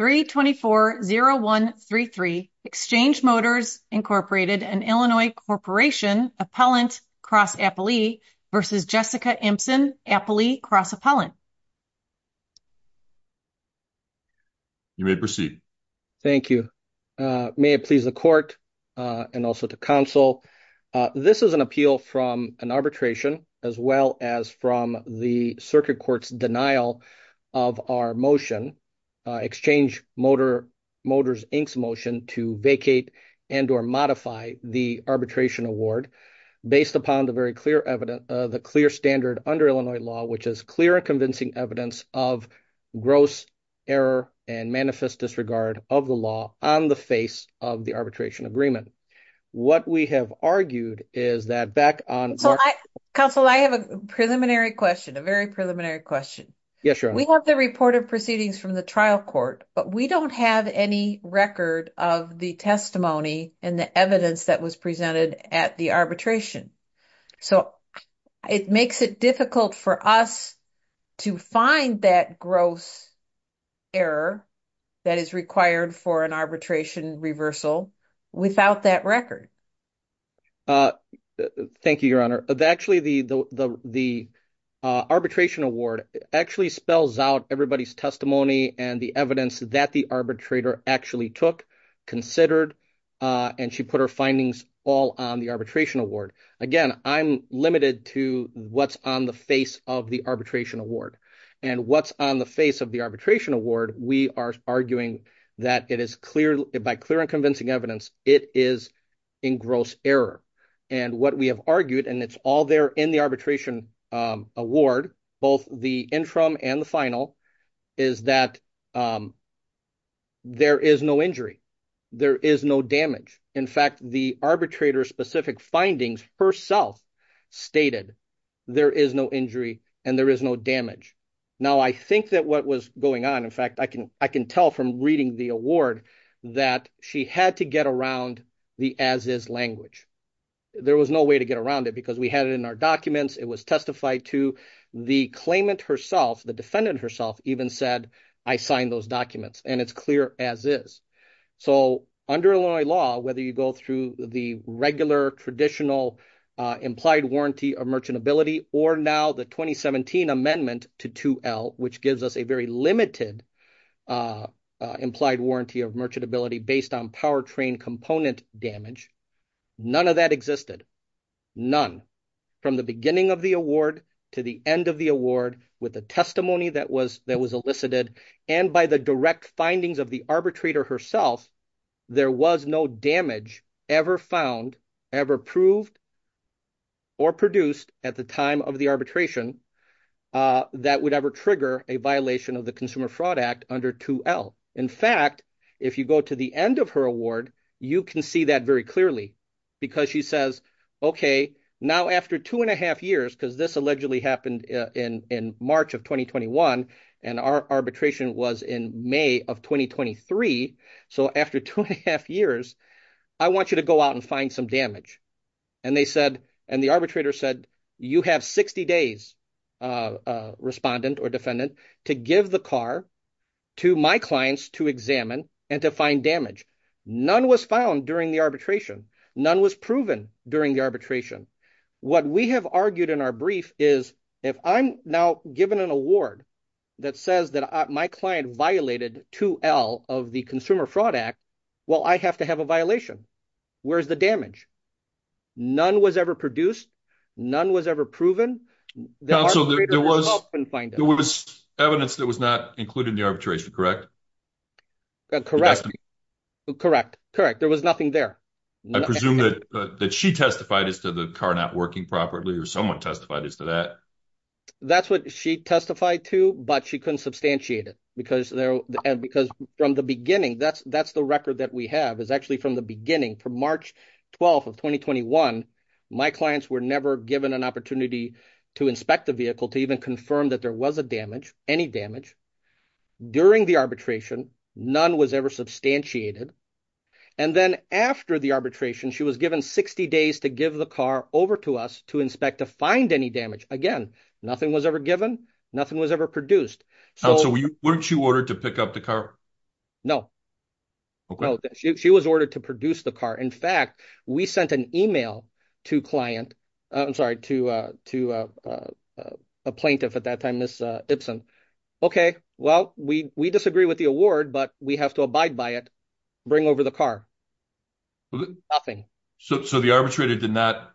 324-0133 Exchange Motors, Inc. and Illinois Corporation Appellant Cross Appellee v. Jessica Impson Appellee Cross Appellant You may proceed. Thank you. May it please the Court, and also to Council, this is an appeal from an arbitration motion, as well as from the Circuit Court's denial of our motion, Exchange Motors, Inc.'s motion to vacate and or modify the arbitration award based upon the very clear standard under Illinois law, which is clear and convincing evidence of gross error and manifest disregard of the law on the face of the arbitration agreement. What we have argued is that back Council, I have a preliminary question, a very preliminary question. We have the report of proceedings from the trial court, but we don't have any record of the testimony and the evidence that was presented at the arbitration. So it makes it difficult for us to find that gross error that is required for an arbitration reversal without that record. Thank you, Your Honor. Actually, the arbitration award actually spells out everybody's testimony and the evidence that the arbitrator actually took, considered, and she put her findings all on the arbitration award. Again, I'm limited to what's on the face of the arbitration award. And what's on the face of the arbitration award, we are arguing that it is clear, by clear and convincing evidence, it is in gross error. And what we have argued, and it's all there in the arbitration award, both the interim and the final, is that there is no injury. There is no damage. In fact, the arbitrator's specific findings herself stated there is no injury and there is no damage. Now I think that what was going on, I can tell from reading the award that she had to get around the as-is language. There was no way to get around it because we had it in our documents. It was testified to. The claimant herself, the defendant herself, even said, I signed those documents and it's clear as-is. So under Illinois law, whether you go through the regular traditional implied warranty of merchantability or now the 2017 amendment to 2L, which gives us a very limited implied warranty of merchantability based on power train component damage, none of that existed. None. From the beginning of the award to the end of the award with the testimony that was elicited and by the direct findings of the arbitrator herself, there was no damage ever found, ever proved, or produced at the time of the arbitration that would ever trigger a violation of the Consumer Fraud Act under 2L. In fact, if you go to the end of her award, you can see that very clearly because she says, okay, now after two and a half years, because this allegedly happened in March of 2021 and our arbitration was in May of 2023. So after two and a half years, I want you to go out and find some damage. And the arbitrator said, you have 60 days, respondent or defendant, to give the car to my clients to examine and to find damage. None was found during the arbitration. None was proven during the arbitration. What we have argued in our brief is if I'm now given an award that says that my client violated 2L of the Consumer Fraud Act, well, I have to have a violation. Where's the damage? None was ever produced. None was ever proven. There was evidence that was not included in the arbitration, correct? Correct. Correct. Correct. There was nothing there. I presume that she testified as to the car not working properly or someone testified as to that. That's what she testified to, but she couldn't substantiate it because from the beginning, that's the record that we have, is actually from the beginning, from March 12th of 2021, my clients were never given an opportunity to inspect the vehicle to even confirm that there was a damage, any damage. During the arbitration, none was ever substantiated. And then after the arbitration, she was given 60 days to give the car over to us to inspect to find any damage. Again, nothing was ever given. Nothing was ever produced. So weren't you ordered to pick up the car? No. Okay. She was ordered to produce the car. In fact, we sent an email to client, I'm sorry, to a plaintiff at that time, Ms. Ibsen. Okay. Well, we disagree with the award, but we have to abide by it. Bring over the car. Nothing. So the arbitrator did not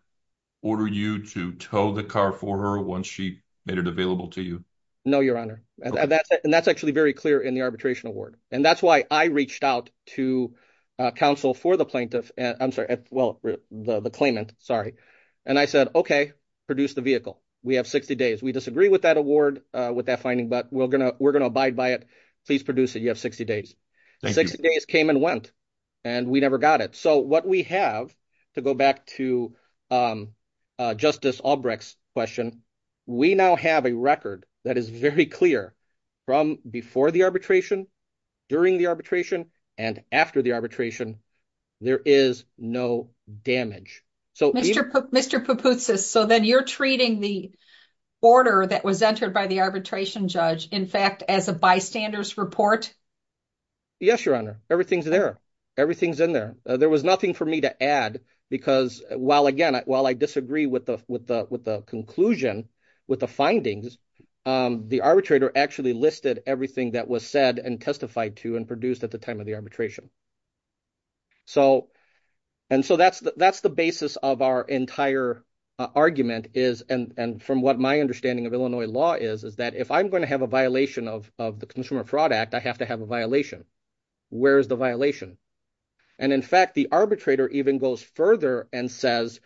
order you to tow the car for her once she made it available to you? No, Your Honor. And that's actually very clear in arbitration award. And that's why I reached out to counsel for the plaintiff, I'm sorry, well, the claimant, sorry. And I said, okay, produce the vehicle. We have 60 days. We disagree with that award, with that finding, but we're gonna abide by it. Please produce it. You have 60 days. 60 days came and went, and we never got it. So what we have, to go back to Justice Albrecht's question, we now have a record that is very clear from before the arbitration, during the arbitration, and after the arbitration, there is no damage. Mr. Papoutsis, so then you're treating the order that was entered by the arbitration judge, in fact, as a bystander's report? Yes, Your Honor. Everything's there. Everything's in there. There was nothing for me to add, because while, again, while I disagree with the conclusion, with the findings, the arbitrator actually listed everything that was said and testified to and produced at the time of the arbitration. And so that's the basis of our entire argument is, and from what my understanding of Illinois law is, is that if I'm going to have a violation of the Consumer Fraud Act, I have to have a violation. Where is the violation? And in fact, the arbitrator even goes further and says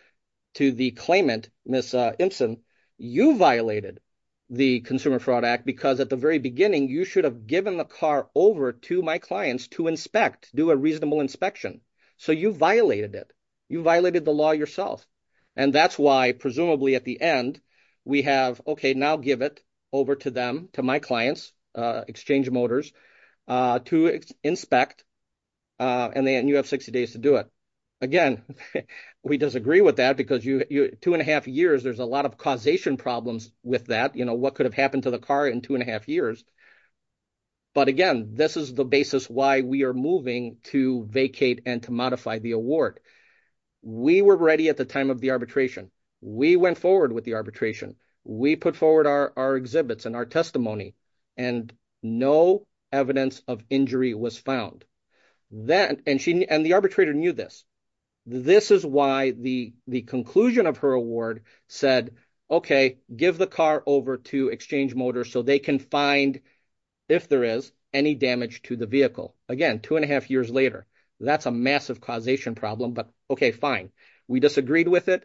to the claimant, Ms. Impson, you violated the Consumer Fraud Act because at the very beginning, you should have given the car over to my clients to inspect, do a reasonable inspection. So you violated it. You violated the law yourself. And that's why, presumably, at the end, we have, okay, now give it over to them, to my clients, Exchange Motors, to inspect, and then you have 60 days to do it. Again, we disagree with that because two and a half years, there's a lot of causation problems with that. You know, what could have happened to the car in two and a half years? But again, this is the basis why we are moving to vacate and to modify the award. We were ready at the time of the arbitration. We went forward with the arbitration. We put forward our exhibits and our testimony, and no evidence of injury was found. And the arbitrator knew this. This is why the conclusion of her award said, okay, give the car over to Exchange Motors so they can find, if there is, any damage to the vehicle. Again, two and a half years later, that's a massive causation problem. But okay, fine. We disagreed with it,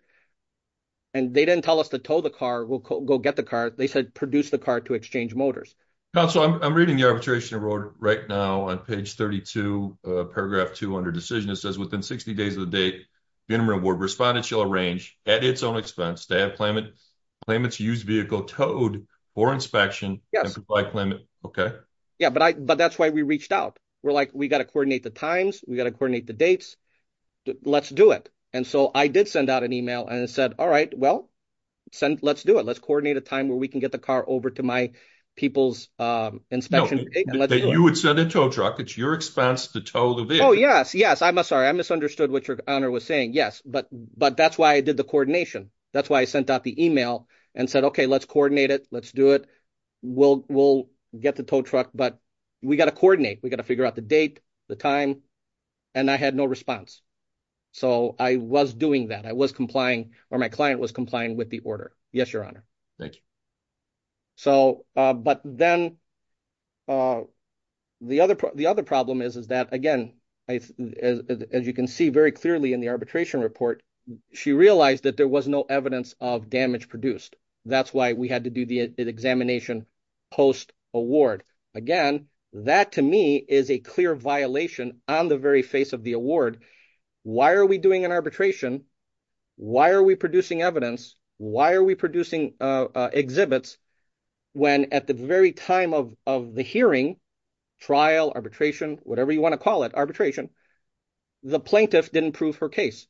and they didn't tell us to tow the car, we'll go get the car. They said produce the car to Exchange Motors. Counsel, I'm reading the arbitration right now on page 32, paragraph 2, under decision. It says, within 60 days of the date, the interim award respondent shall arrange, at its own expense, to have the claimant's used vehicle towed for inspection and comply with the claimant. Okay. Yeah, but that's why we reached out. We're like, we got to coordinate the times, we got to coordinate the dates. Let's do it. And so I did send out an email and said, all right, well, send, let's do it. Let's coordinate a time where we can get the car over to my people's inspection. You would send a tow truck. It's your expense to tow the vehicle. Oh, yes, yes. I'm sorry. I misunderstood what your honor was saying. Yes. But that's why I did the coordination. That's why I sent out the email and said, okay, let's coordinate it. Let's do it. We'll get the tow truck, but we got to coordinate. We got to figure out the date, the time, and I had no response. So I was doing that. I was complying, or my client was complying with the order. Yes, your honor. Thank you. So, but then the other problem is that, again, as you can see very clearly in the arbitration report, she realized that there was no evidence of damage produced. That's why we had to do the examination post-award. Again, that to me is a clear violation on the very face of the award. Why are we doing an arbitration? Why are we producing evidence? Why are we producing exhibits when at the very time of the hearing, trial, arbitration, whatever you want to call it, arbitration, the plaintiff didn't prove her case.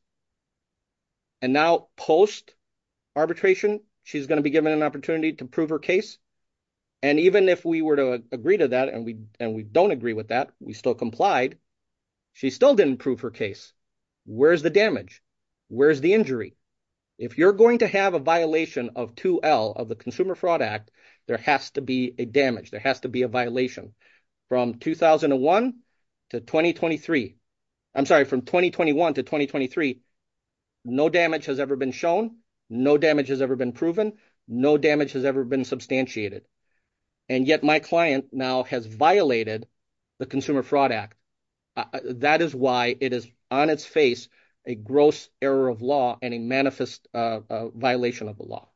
And now post-arbitration, she's going to be given an opportunity to prove her case. And even if we were to agree to that, and we don't agree with that, we still complied. She still didn't prove her case. Where's the damage? Where's the injury? If you're going to have a violation of 2L of the Consumer Fraud Act, there has to be a damage. There has to be a violation. From 2001 to 2023, I'm sorry, from 2021 to 2023, no damage has ever been shown. No damage has ever been proven. No damage has ever been substantiated. And yet my client now has violated the Consumer Fraud Act. That is why it is on its face a gross error of law and a manifest violation of the law.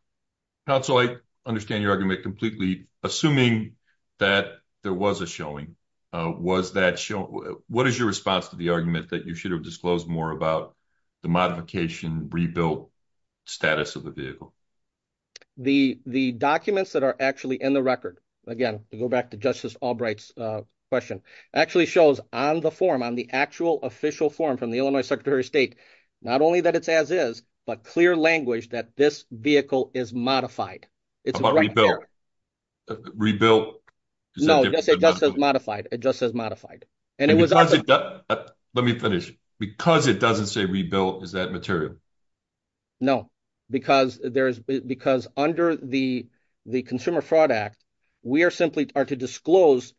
Counsel, I understand your argument completely. Assuming that there was a showing, what is your response to the argument that you should have disclosed more about the modification, rebuilt status of the vehicle? The documents that are actually in the record, again, to go back to Justice Albright's question, actually shows on the form, on the actual official form from the Illinois Secretary of State, not only that it's as is, but clear language that this vehicle is modified. How about rebuilt? No, it just says modified. It just says modified. Let me finish. Because it doesn't say rebuilt, is that material? No, because under the Consumer Fraud Act, we are simply are to disclose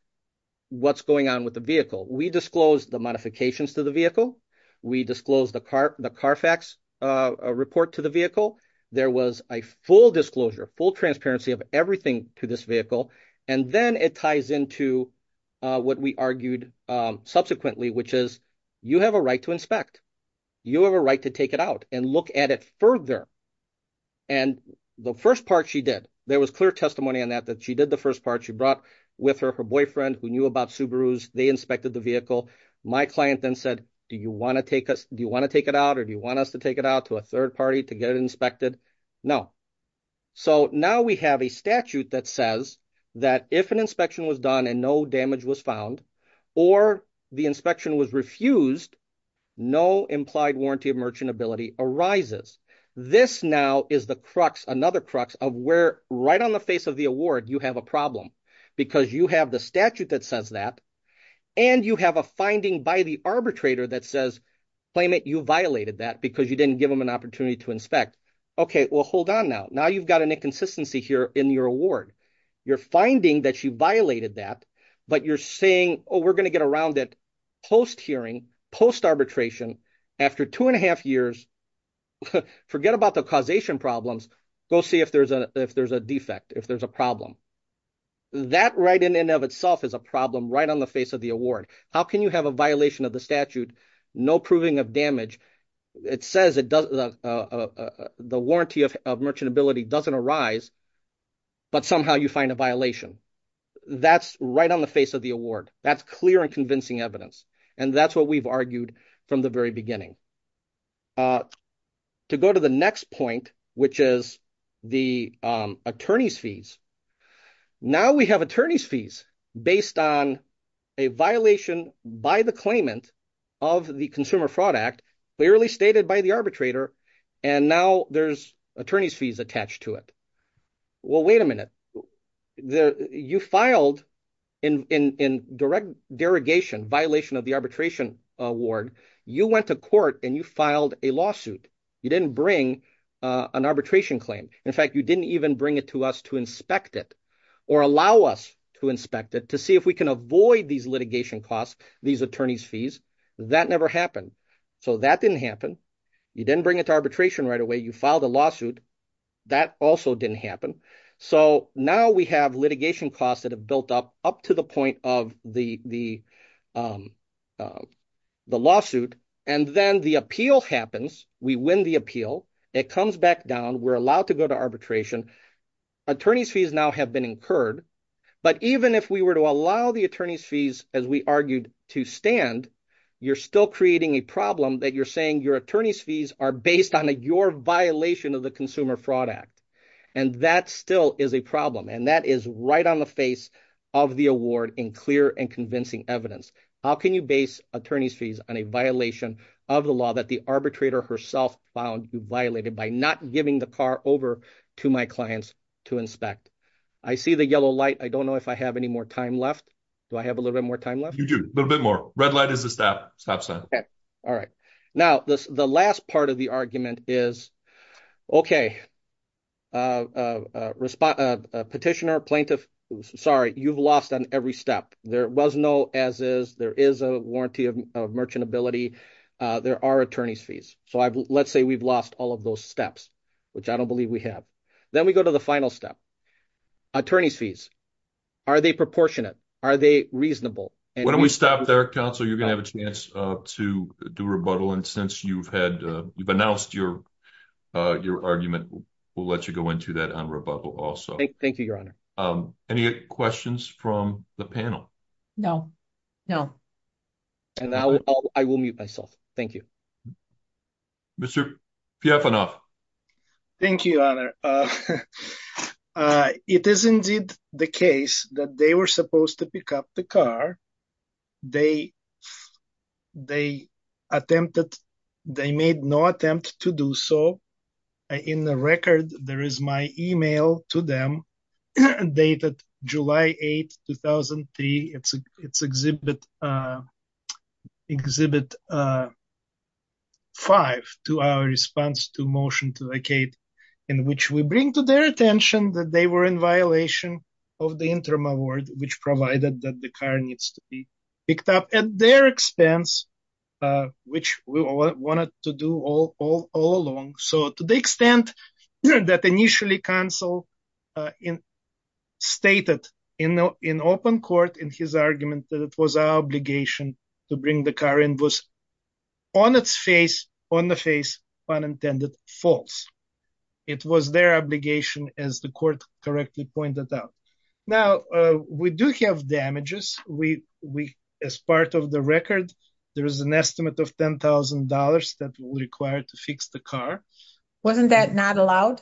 what's going on with the vehicle. We disclose the modifications to the vehicle. We disclose the CARFAX report to the vehicle. There was a full disclosure, full transparency of everything to this vehicle. Then it ties into what we argued subsequently, which is you have a right to inspect. You have a right to take it out and look at it further. The first part she did, there was clear testimony on that, that she did the first part. She brought with her her boyfriend who knew about Subarus. They inspected the vehicle. My client then said, do you want to take it out or do you want us to take it out to a third party to get it inspected? No. Now we have a statute that says that if an inspection was done and no damage was found or the inspection was refused, no implied warranty of merchantability arises. This now is the crux, another crux of where right on the face of the award, you have a problem. Because you have the statute that says that and you have a finding by the arbitrator that says, claimant, you violated that because you didn't give them an opportunity to inspect. Okay, well, hold on now. Now you've got an inconsistency here in your award. You're finding that you violated that, but you're saying, oh, we're going to get around it post-hearing, post-arbitration after two and a half years. Forget about the causation problems. Go see if there's a defect, if there's a problem. That right in and of itself is a problem right on face of the award. How can you have a violation of the statute, no proving of damage? It says the warranty of merchantability doesn't arise, but somehow you find a violation. That's right on the face of the award. That's clear and convincing evidence. And that's what we've argued from the very beginning. To go to the next point, which is the attorney's fees. Now we have attorney's fees based on a violation by the claimant of the Consumer Fraud Act, clearly stated by the arbitrator. And now there's attorney's fees attached to it. Well, wait a minute. You filed in direct derogation, violation of the arbitration award. You went to court and you filed a lawsuit. You didn't bring an arbitration claim. In fact, you didn't even bring it to us to inspect it or allow us to inspect it to see if we can avoid these litigation costs, these attorney's fees. That never happened. So that didn't happen. You didn't bring it to arbitration right away. You filed a lawsuit. That also didn't happen. So now we have litigation costs that have built up, up to the point of the lawsuit. And then the appeal happens. We win the appeal. It comes back down. We're allowed to go to arbitration. Attorney's fees now have been incurred. But even if we were to allow the attorney's fees, as we argued, to stand, you're still creating a problem that you're saying your attorney's fees are based on your violation of the Consumer Fraud Act. And that still is a problem. And that is right on the face of the award in clear and convincing evidence. How can you base attorney's fees on a violation of the law that the arbitrator herself found you violated by not giving the car over to my clients to inspect? I see the yellow light. I don't know if I have any more time left. Do I have a little bit more time left? You do. A little bit more. Red light is a stop sign. All right. Now, the last part of the argument is, okay, petitioner, plaintiff, sorry, you've lost on every step. There was no as is. There is a warranty of merchantability. There are attorney's fees. So let's say we've lost all of those steps, which I don't believe we have. Then we go to the final step. Attorney's fees. Are they proportionate? Are they reasonable? Why don't we stop there, counsel? You're going to have a chance to do rebuttal. And since you've announced your argument, we'll let you go into that on rebuttal also. Thank you, Your Honor. Any questions from the panel? No, no. And I will mute myself. Thank you. Mr. Piafanov. Thank you, Your Honor. It is indeed the case that they were supposed to pick up the car. They made no attempt to do so. In the record, there is my email to them dated July 8, 2003. It's exhibit five to our response to motion to vacate, in which we bring to their attention that they were in violation of the interim award, which provided that the car needs to be picked up at their expense, which we wanted to do all along. So to the extent that initially counsel stated in open court in his argument that it was our obligation to bring the car in was on its face, on the face, pun intended, false. It was their obligation, as the court correctly pointed out. Now, we do have damages. As part of the record, there is an estimate of $10,000 that will be required to fix the car. Wasn't that not allowed?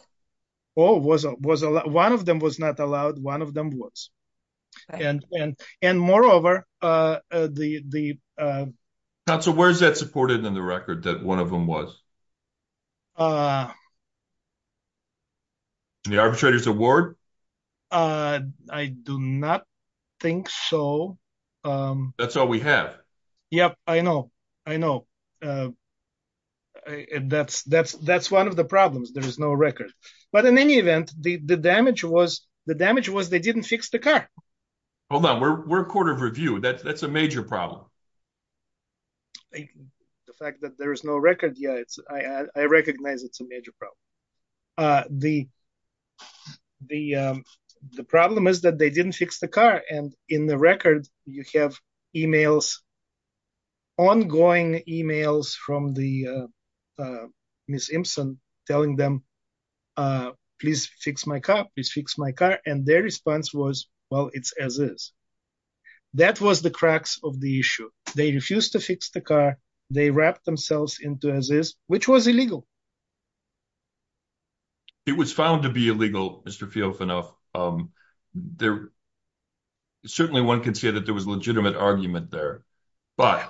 Oh, one of them was not allowed. One of them was. And moreover, the... Counsel, where is that supported in the record that one of them was? The arbitrator's award? I do not think so. That's all we have. Yep, I know, I know. And that's one of the problems. There is no record. But in any event, the damage was, the damage was they didn't fix the car. Hold on, we're a court of review. That's a major problem. The fact that there is no record, yeah, it's, I recognize it's a major problem. The problem is that they didn't fix the car. And in the record, you have emails, ongoing emails from the Ms. Imsen telling them, please fix my car, please fix my car. And their issue. They refused to fix the car. They wrapped themselves into this, which was illegal. It was found to be illegal, Mr. Fiofanov. Certainly one can see that there was a legitimate argument there. But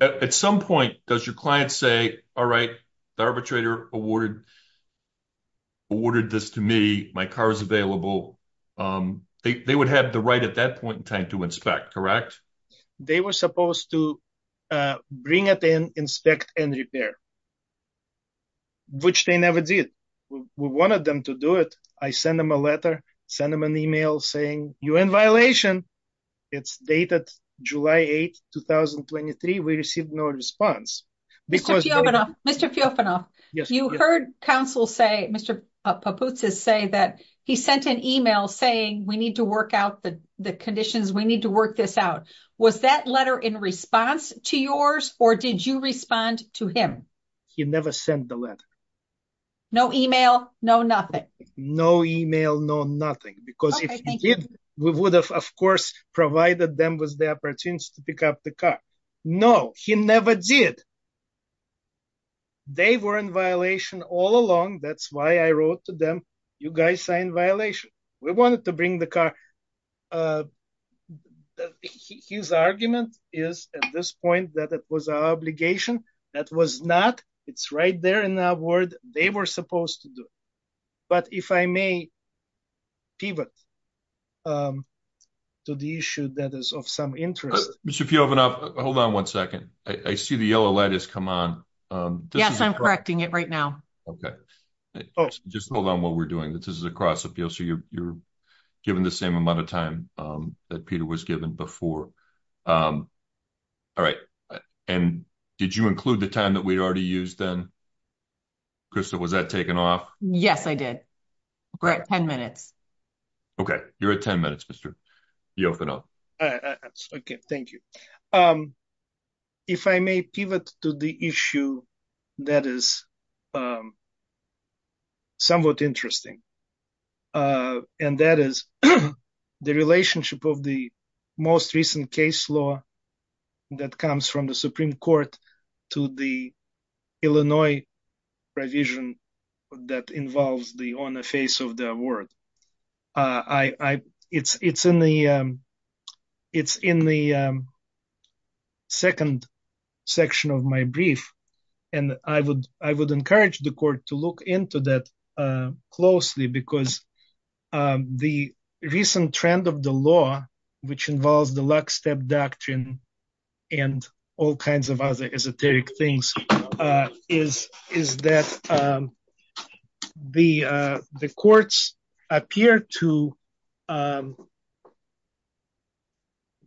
at some point, does your client say, all right, the arbitrator awarded this to me, my car is available. They would have the right at that point in time to inspect, correct? They were supposed to bring it in, inspect and repair. Which they never did. We wanted them to do it. I sent them a letter, sent them an email saying, you're in violation. It's dated July 8, 2023. We received no response. Mr. Fiofanov, you heard counsel say, Mr. Papoutsis say that he sent an email saying we need to work out the conditions, we need to work this out. Was that letter in response to yours or did you respond to him? He never sent the letter. No email, no nothing. No email, no nothing. Because if he did, we would have of course provided them with the opportunities to pick up the car. No, he never did. They were in violation all along. That's I wrote to them. You guys signed violation. We wanted to bring the car. His argument is at this point that it was an obligation. That was not. It's right there in that word. They were supposed to do it. But if I may pivot to the issue that is of some interest. Mr. Fiofanov, hold on one second. I see the yellow light has come on. Yes, I'm correcting it right now. Okay, just hold on while we're doing this. This is a cross appeal, so you're given the same amount of time that Peter was given before. All right, and did you include the time that we already used then? Krista, was that taken off? Yes, I did. We're at 10 minutes. Okay, you're at 10 minutes, Mr. Fiofanov. Okay, thank you. If I may pivot to the issue that is somewhat interesting, and that is the relationship of the most recent case law that comes from the Supreme Court to the Illinois provision that involves the on the face of the law. It's in the second section of my brief, and I would encourage the court to look into that closely because the recent trend of the law, which involves the lockstep doctrine and all kinds of other esoteric things, is that the courts appear to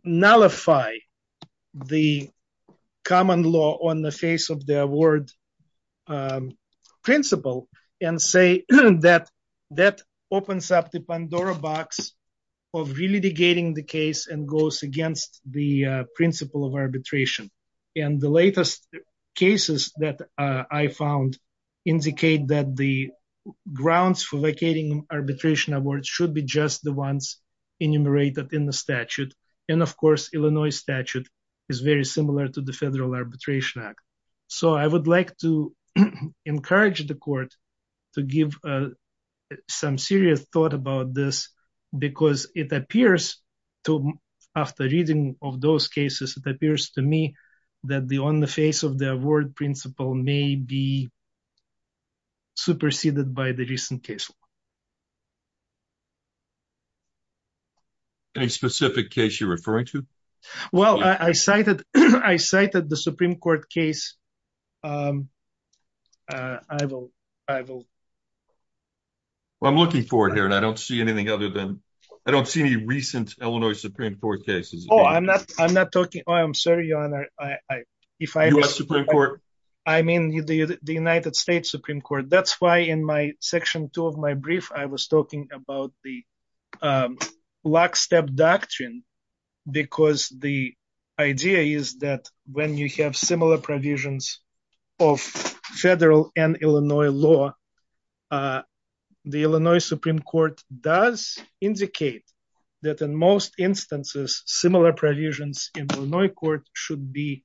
nullify the common law on the face of the award principle and say that that opens up the Pandora box of re-litigating the case and goes against the principle of arbitration. And the latest cases that I found indicate that the grounds for vacating arbitration awards should be just the ones enumerated in the statute. And of course, Illinois statute is very similar to the Federal Arbitration Act. So I would like to encourage the court to give some serious thought about this because it appears to, after reading of those cases, it appears to me that the on the face of the award principle may be superseded by the recent case law. Any specific case you're referring to? Well, I cited the Supreme Court case. Well, I'm looking forward here and I don't see anything other than, I don't see any recent Illinois Supreme Court cases. Oh, I'm not, I'm not talking, I'm sorry, your honor, I, if I, US Supreme Court, I mean the United States Supreme Court. That's why in my section two of my brief, I was talking about the lockstep doctrine because the idea is that when you have similar provisions of federal and Illinois law, the Illinois Supreme Court does indicate that in most instances, similar provisions in Illinois court should be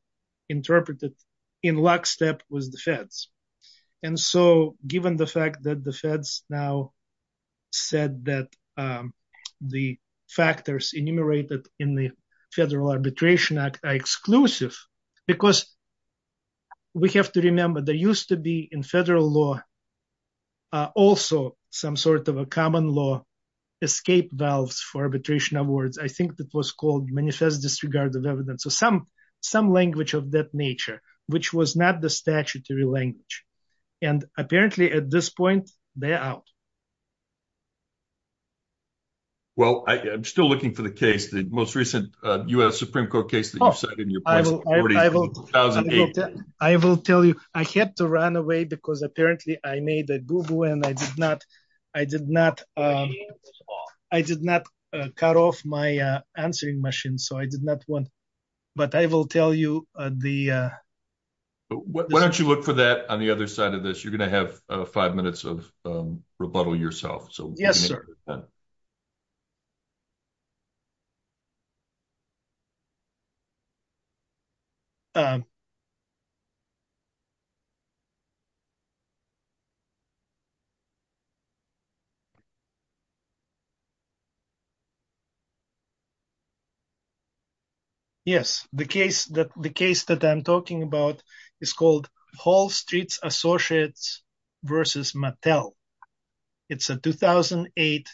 interpreted in lockstep with the feds. And so given the fact that the feds now said that the factors enumerated in the Federal Arbitration Act are exclusive, because we have to remember there used to be in federal law also some sort of a common law escape valves for arbitration awards. I think that was called manifest disregard of evidence or some language of that nature, which was not the statutory language. And apparently at this point, they're out. Well, I'm still looking for the case, the most recent US Supreme Court case that you've cited. I will tell you, I had to run away because apparently I made a Google and I did not, I did not, I did not cut off my answering machine. So I did not want, but I will tell you the, why don't you look for that on the other side of this, you're going to have five minutes of rebuttal yourself. So yes, sir. Yes, the case that I'm talking about is called Hall Street Associates versus Mattel. It's a 2008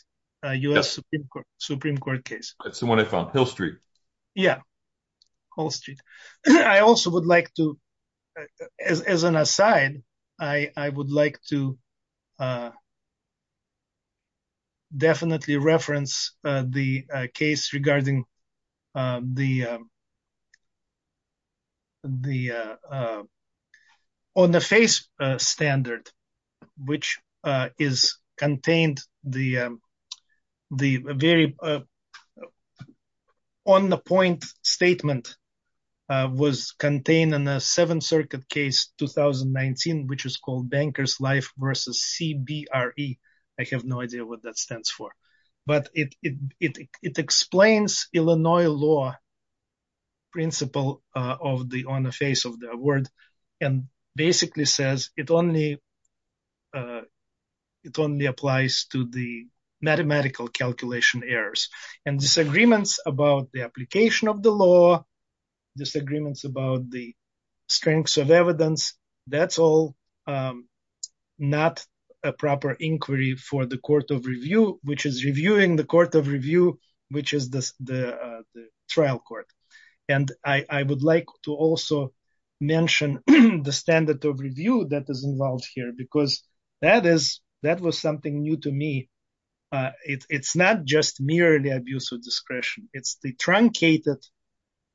US Supreme Court case. That's the one I found, Hill Street. Yeah, Hall Street. I also would like to, as an aside, I would like to definitely reference the case regarding the, on the face standard, which is contained, the very on the point statement was contained in the Seventh Circuit case, 2019, which is called Banker's Life versus CBRE. I have no idea what that stands for, but it, it, it, it explains Illinois law principle of the, on the face of the word and basically says it only, it only applies to the mathematical calculation errors and disagreements about the application of the law, disagreements about the strengths of evidence. That's all not a proper inquiry for the court of review, which is reviewing the court of review, which is the trial court. And I would like to also mention the standard of review that is involved here because that is, that was something new to me. It's not just merely abuse of discretion. It's the truncated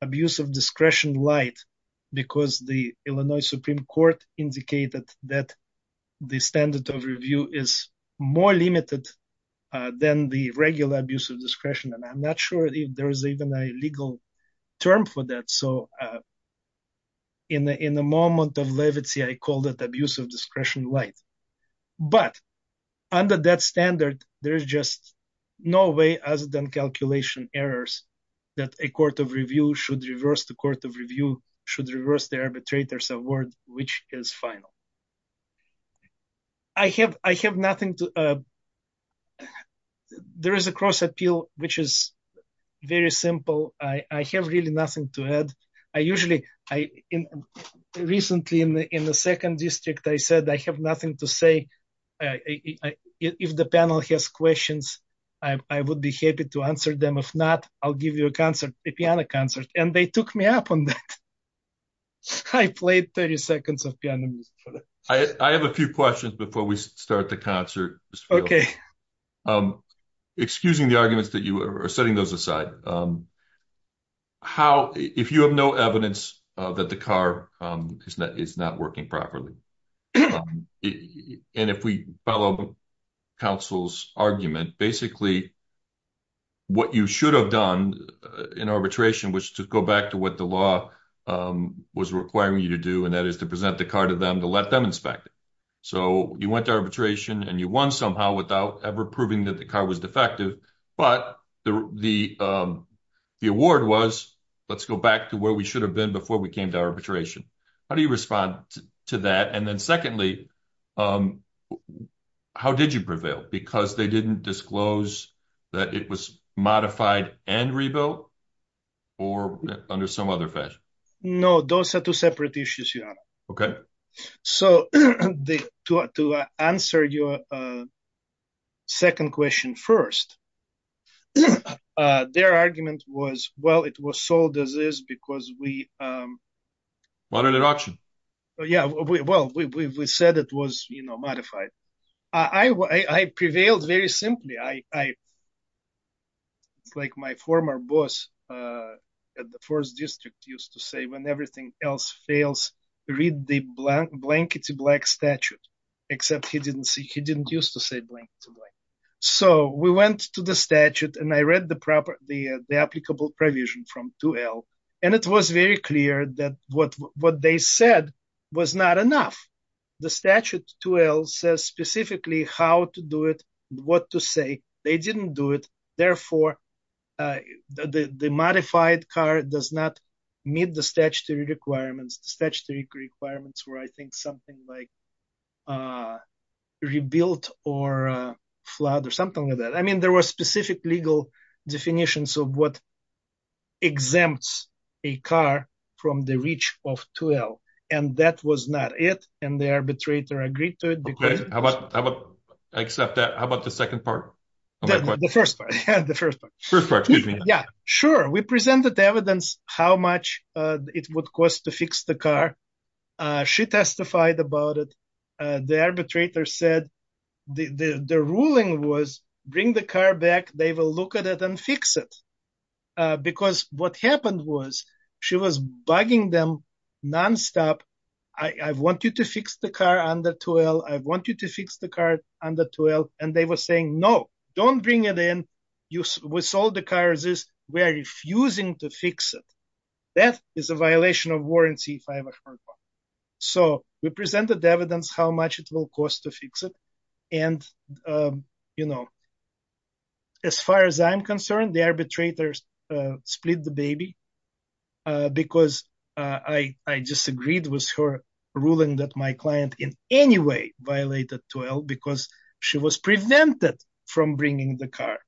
abuse of discretion light, because the Illinois Supreme Court indicated that the standard of review is more limited than the regular abuse of discretion. And I'm not sure if there is even a legal term for that. So in the, in the moment of levity, I called it abuse of that a court of review should reverse, the court of review should reverse the arbitrator's award, which is final. I have, I have nothing to, there is a cross appeal, which is very simple. I have really nothing to add. I usually, I recently in the, in the second district, I said, I have nothing to say. If the panel has questions, I would be happy to answer them. If not, I'll give you a concert, a piano concert. And they took me up on that. I played 30 seconds of piano music for them. I have a few questions before we start the concert. Okay. Excusing the arguments that you are setting those aside. How, if you have no evidence that the car is not working properly. And if we follow counsel's argument, basically, what you should have done in arbitration was to go back to what the law was requiring you to do. And that is to present the car to them, to let them inspect it. So you went to arbitration and you won somehow without ever proving that the car was defective. But the, the, the award was, let's go back to where we should have been before we came to arbitration. How do you respond to that? And then secondly, how did you prevail? Because they didn't disclose that it was modified and rebuilt or under some other fashion? No, those are two separate issues. Okay. So to answer your second question first, their argument was, well, it was sold as is because we... Modified at auction. Yeah. Well, we said it was modified. I prevailed very simply. It's like my former boss at the first district used to say, when everything else fails, read the blank, blankety black statute, except he didn't see, he didn't use to say blank. So we went to the statute and I read the proper, the, the applicable provision from 2L. And it was very clear that what, what they said was not enough. The statute 2L says specifically how to do it, what to say. They didn't do it. Therefore, the, the modified car does not meet the statutory requirements. The statutory requirements were, I think, something like rebuilt or flawed or something like that. I mean, there was specific legal definitions of what exempts a car from the reach of 2L and that was not it. And the arbitrator agreed to it. I accept that. How about the second part? The first part. The first part. Yeah, sure. We presented the evidence how much it would cost to fix the car. She testified about it. The arbitrator said the, the, the ruling was bring the car back. They will look at it and fix it. Because what happened was she was bugging them nonstop. I want you to fix the car under 2L. I want you to fix the car under 2L. And they were saying, no, don't bring it in. You, we sold the car. We are refusing to fix it. That is a violation of warranty if I ever heard one. So we presented the evidence how much it will cost to fix it. And, you know, as far as I'm concerned, the arbitrators split the baby because I, I disagreed with her ruling that my client in any way violated 2L because she was prevented from bringing the car.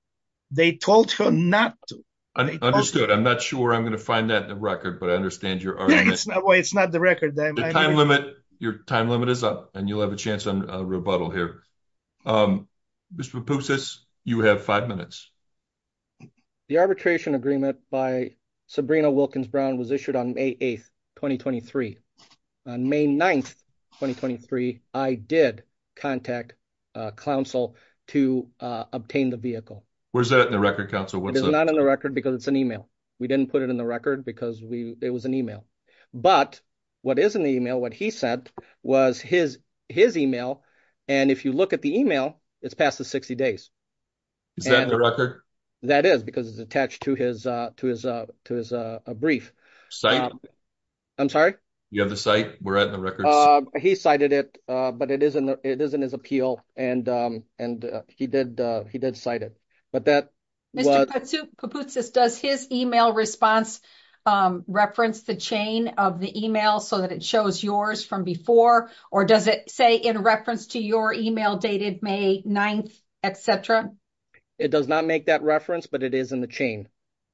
They told her not to. Understood. I'm not sure I'm going to find that in the record, but I understand your argument. It's not the record. The time limit, your time limit is up and you'll have a chance on a rebuttal here. Mr. Poupsis, you have five minutes. The arbitration agreement by Sabrina Wilkins-Brown was issued on May 8th, 2023. On May 9th, 2023, I did contact counsel to obtain the vehicle. Where's that in the record counsel? It's not in the record because it's an email. We didn't put it in the record because we, it was an email, but what is in the email, what he said was his, his email. And if you look at the email, it's past the 60 days. Is that in the record? That is because it's attached to his, uh, to his, uh, to his, uh, a brief. I'm sorry. You have the site. We're at the record. He cited it, uh, but it isn't, it isn't his appeal. And, um, and, uh, he did, uh, he did cite it, but that. Mr. Poupsis, does his email response, um, reference the chain of the email so that it shows yours from before, or does it say in reference to your email dated May 9th, et cetera? It does not make that reference, but it is in the chain.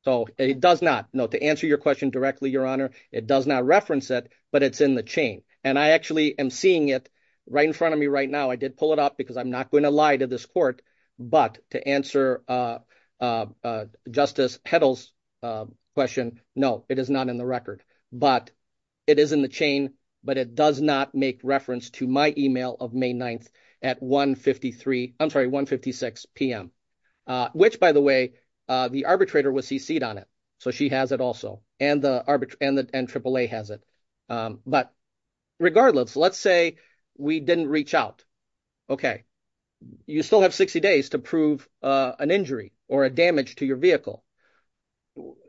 So it does not know to answer your question directly, your honor. It does not reference it, but it's in the chain. And I actually am seeing it right in front of me right now. I did pull it up because I'm not going to lie to this court, but to answer, uh, uh, uh, justice heddles, uh, question. No, it is not in the record, but it is in the chain, but it does not make reference to my email of May 9th at 1 53, I'm sorry, 1 56 PM. Uh, which by the way, uh, the arbitrator was CC'd on it. So she has it also. And the arbitrage and the N triple a has it. Um, but regardless, let's say we didn't reach out. Okay. You still have 60 days to prove, uh, an injury or a damage to your vehicle.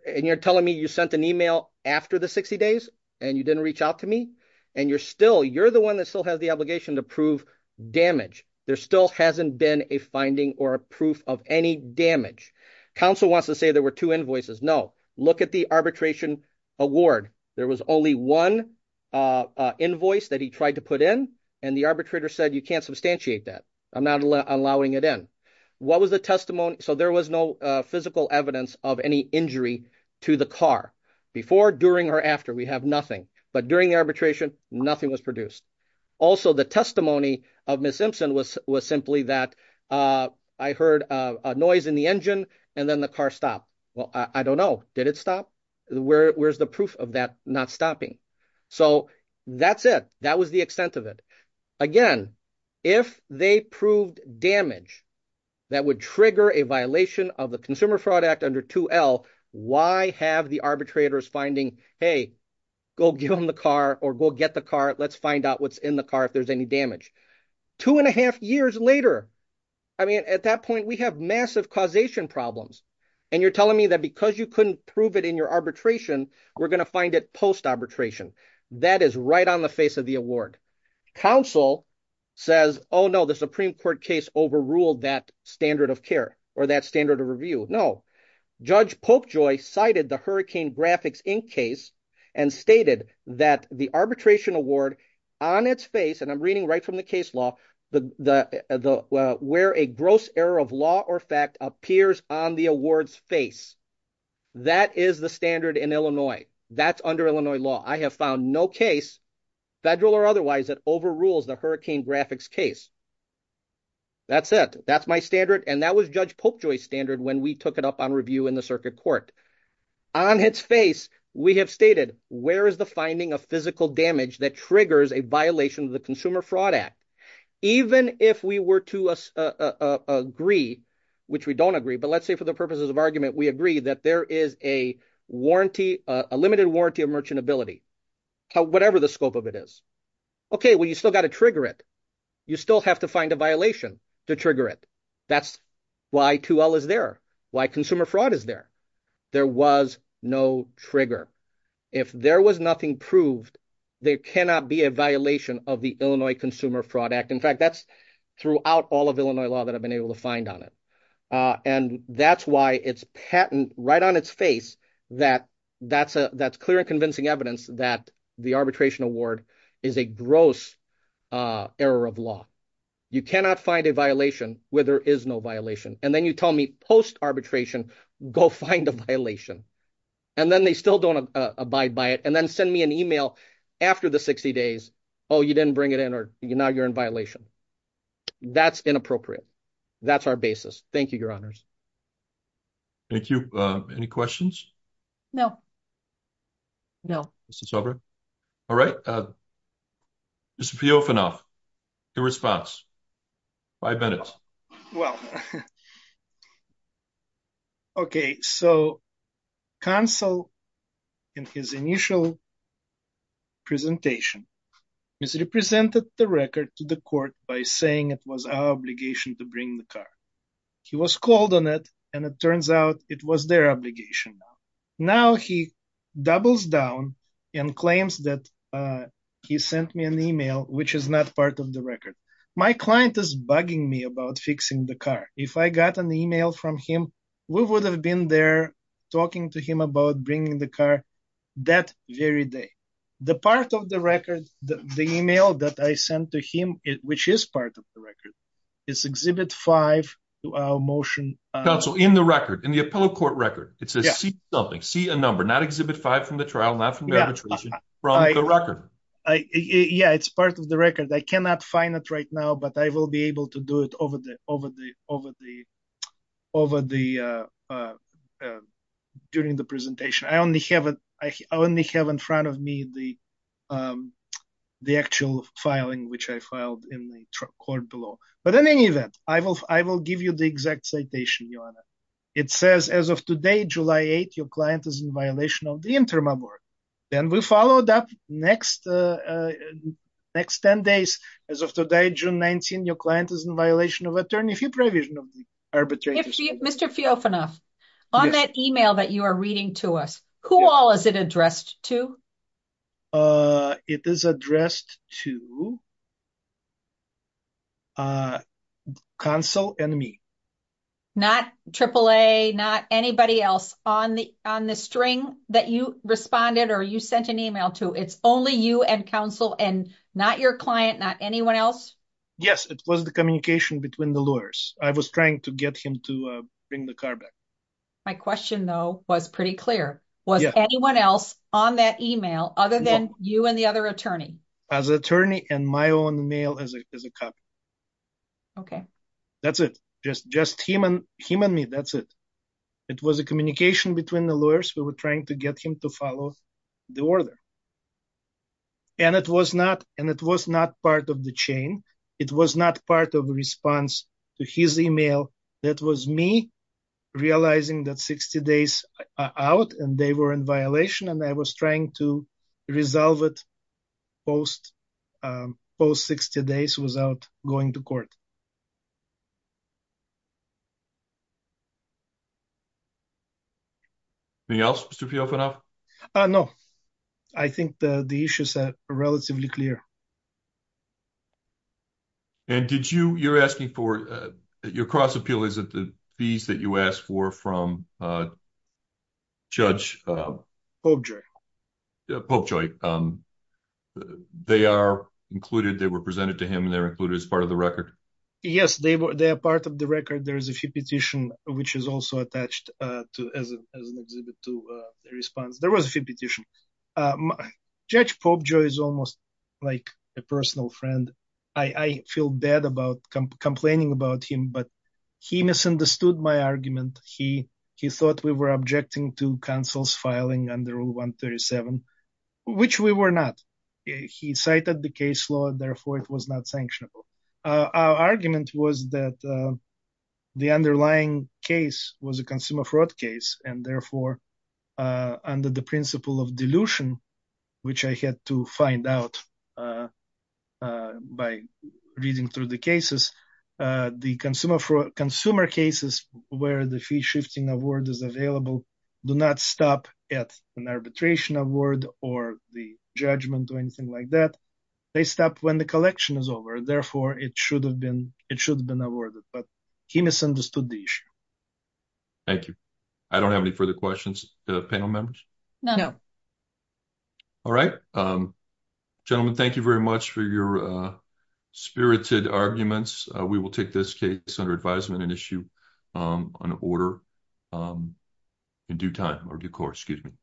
And you're telling me you sent an email after the 60 days and you didn't reach out to me and you're still, you're the one that still has the obligation to prove damage. There still hasn't been a finding or a proof of any damage. Counsel wants to say there were two invoices. No, look at the arbitration award. There was only one, uh, uh, invoice that he tried to put in. And the arbitrator said, you can't substantiate that. I'm not allowing it in. What was the testimony? So there was no physical evidence of any injury to the car before, during or after we have nothing, but during the arbitration, nothing was produced. Also the testimony of Ms. Simpson was, was simply that, uh, I heard a noise in the engine and then the car stopped. Well, I don't know. Did it stop where's the proof of that? Not stopping. So that's it. That was the extent of it. Again, if they proved damage that would trigger a violation of the consumer fraud act under 2L, why have the arbitrators finding, Hey, go give them the car or go get the car. Let's find out what's in the car. If there's any damage two and a half years later, I mean, at that point, we have massive causation problems. And you're telling me that because you couldn't prove it in your arbitration, we're going to find it post arbitration. That is right on the face of the council says, Oh no, the Supreme court case overruled that standard of care or that standard of review. No judge Popejoy cited the hurricane graphics in case and stated that the arbitration award on its face. And I'm reading right from the case law, the, the, the, uh, where a gross error of law or fact appears on the awards face. That is the standard in Illinois. That's under Illinois law. I have found no case federal or otherwise that overrules the hurricane graphics case. That's it. That's my standard. And that was judge Popejoy standard. When we took it up on review in the circuit court on its face, we have stated, where is the finding of physical damage that triggers a violation of the consumer fraud act, even if we were to, uh, uh, agree, which we don't agree, but let's say for the purposes of argument, we agree that there is a warranty, a limited warranty of merchantability, whatever the scope of it is. Okay. Well, you still got to trigger it. You still have to find a violation to trigger it. That's why 2L is there. Why consumer fraud is there. There was no trigger. If there was nothing proved, there cannot be a violation of the Illinois consumer fraud act. In fact, that's throughout all of Illinois law that I've been able to find on it. Uh, and that's why it's patent right on its face that that's a, that's clear and convincing evidence that the arbitration award is a gross, uh, error of law. You cannot find a violation where there is no violation. And then you tell me post arbitration, go find a violation. And then they still don't abide by it. And then send me an email after the 60 days. Oh, you didn't bring it in or you're now you're in violation. That's inappropriate. That's our basis. Thank you, your honors. Thank you. Uh, any questions? No, no. This is over. All right. Uh, Mr. Piofanoff, your response, five minutes. Well, okay. So counsel in his initial presentation is represented the record to the court by saying it was our obligation to bring the car. He was called on it and it turns out it was their obligation. Now he doubles down and claims that, uh, he sent me an email, which is not part of the record. My client is bugging me about fixing the car. If I got an email from him, we would have been there talking to him about bringing the car that very day. The part of the record, the email that I sent to him, which is not part of the record is exhibit five motion in the record, in the appellate court record, it says something, see a number, not exhibit five from the trial, not from the record. Yeah, it's part of the record. I cannot find it right now, but I will be able to do it over the, over the, over the, over the, uh, uh, during the presentation. I only have it. I only have in front of me, the, um, the actual filing, which I filed in the court below. But in any event, I will, I will give you the exact citation. It says as of today, July 8th, your client is in violation of the interim award. Then we followed up next, uh, uh, next 10 days. As of today, June 19th, your client is in violation of attorney fee provision of the arbitration. Mr. Fiofanov, on that email that you are reading to us, who all is it addressed to? Uh, it is addressed to, uh, counsel and me. Not AAA, not anybody else on the, on the string that you responded or you sent an email to, it's only you and counsel and not your client, not anyone else? Yes, it was the communication between the lawyers. I was trying to get him to bring the car back. My question though, was pretty clear. Was anyone else on that email other than you and the other attorney? As attorney and my own mail as a, as a cop. Okay. That's it. Just, just him and him and me. That's it. It was a communication between the lawyers. We were trying to get him to follow the order and it was not, and it was not part of the chain. It was not part of a response to his email. That was me realizing that 60 days out and they were in violation and I was trying to resolve it post, um, post 60 days without going to court. Anything else, Mr. Fiofanov? Uh, no. I think the issues are relatively clear. And did you, you're asking for, uh, your cross appeal, is it the fees that you asked for from, uh, judge, uh, Popejoy, um, they are included, they were presented to him and they're included as part of the record? Yes, they were. They are part of the record. There is a few petition, which is also attached, uh, to, as an, as an exhibit to the response. There was a few petition. Um, judge Popejoy is almost like a personal friend. I, I feel bad about complaining about him, but he misunderstood my argument. He, he thought we were objecting to counsel's filing under rule 137, which we were not. He cited the case law and therefore it was not sanctionable. Uh, our argument was that, uh, the underlying case was a consumer fraud case and therefore, uh, under the principle of dilution, which I had to find out, uh, uh, by reading through the cases, uh, the consumer fraud consumer cases where the fee shifting award is available, do not stop at an arbitration award or the judgment or anything like that. They stop when the collection is over, therefore it should have been, it should have been awarded, but he misunderstood the issue. Thank you. I don't have any further questions, uh, panel members. No. All right. Um, gentlemen, thank you very much for your, uh, spirited arguments. Uh, we will take this case under advisement and issue, um, an order, um, in due time or due course, excuse me.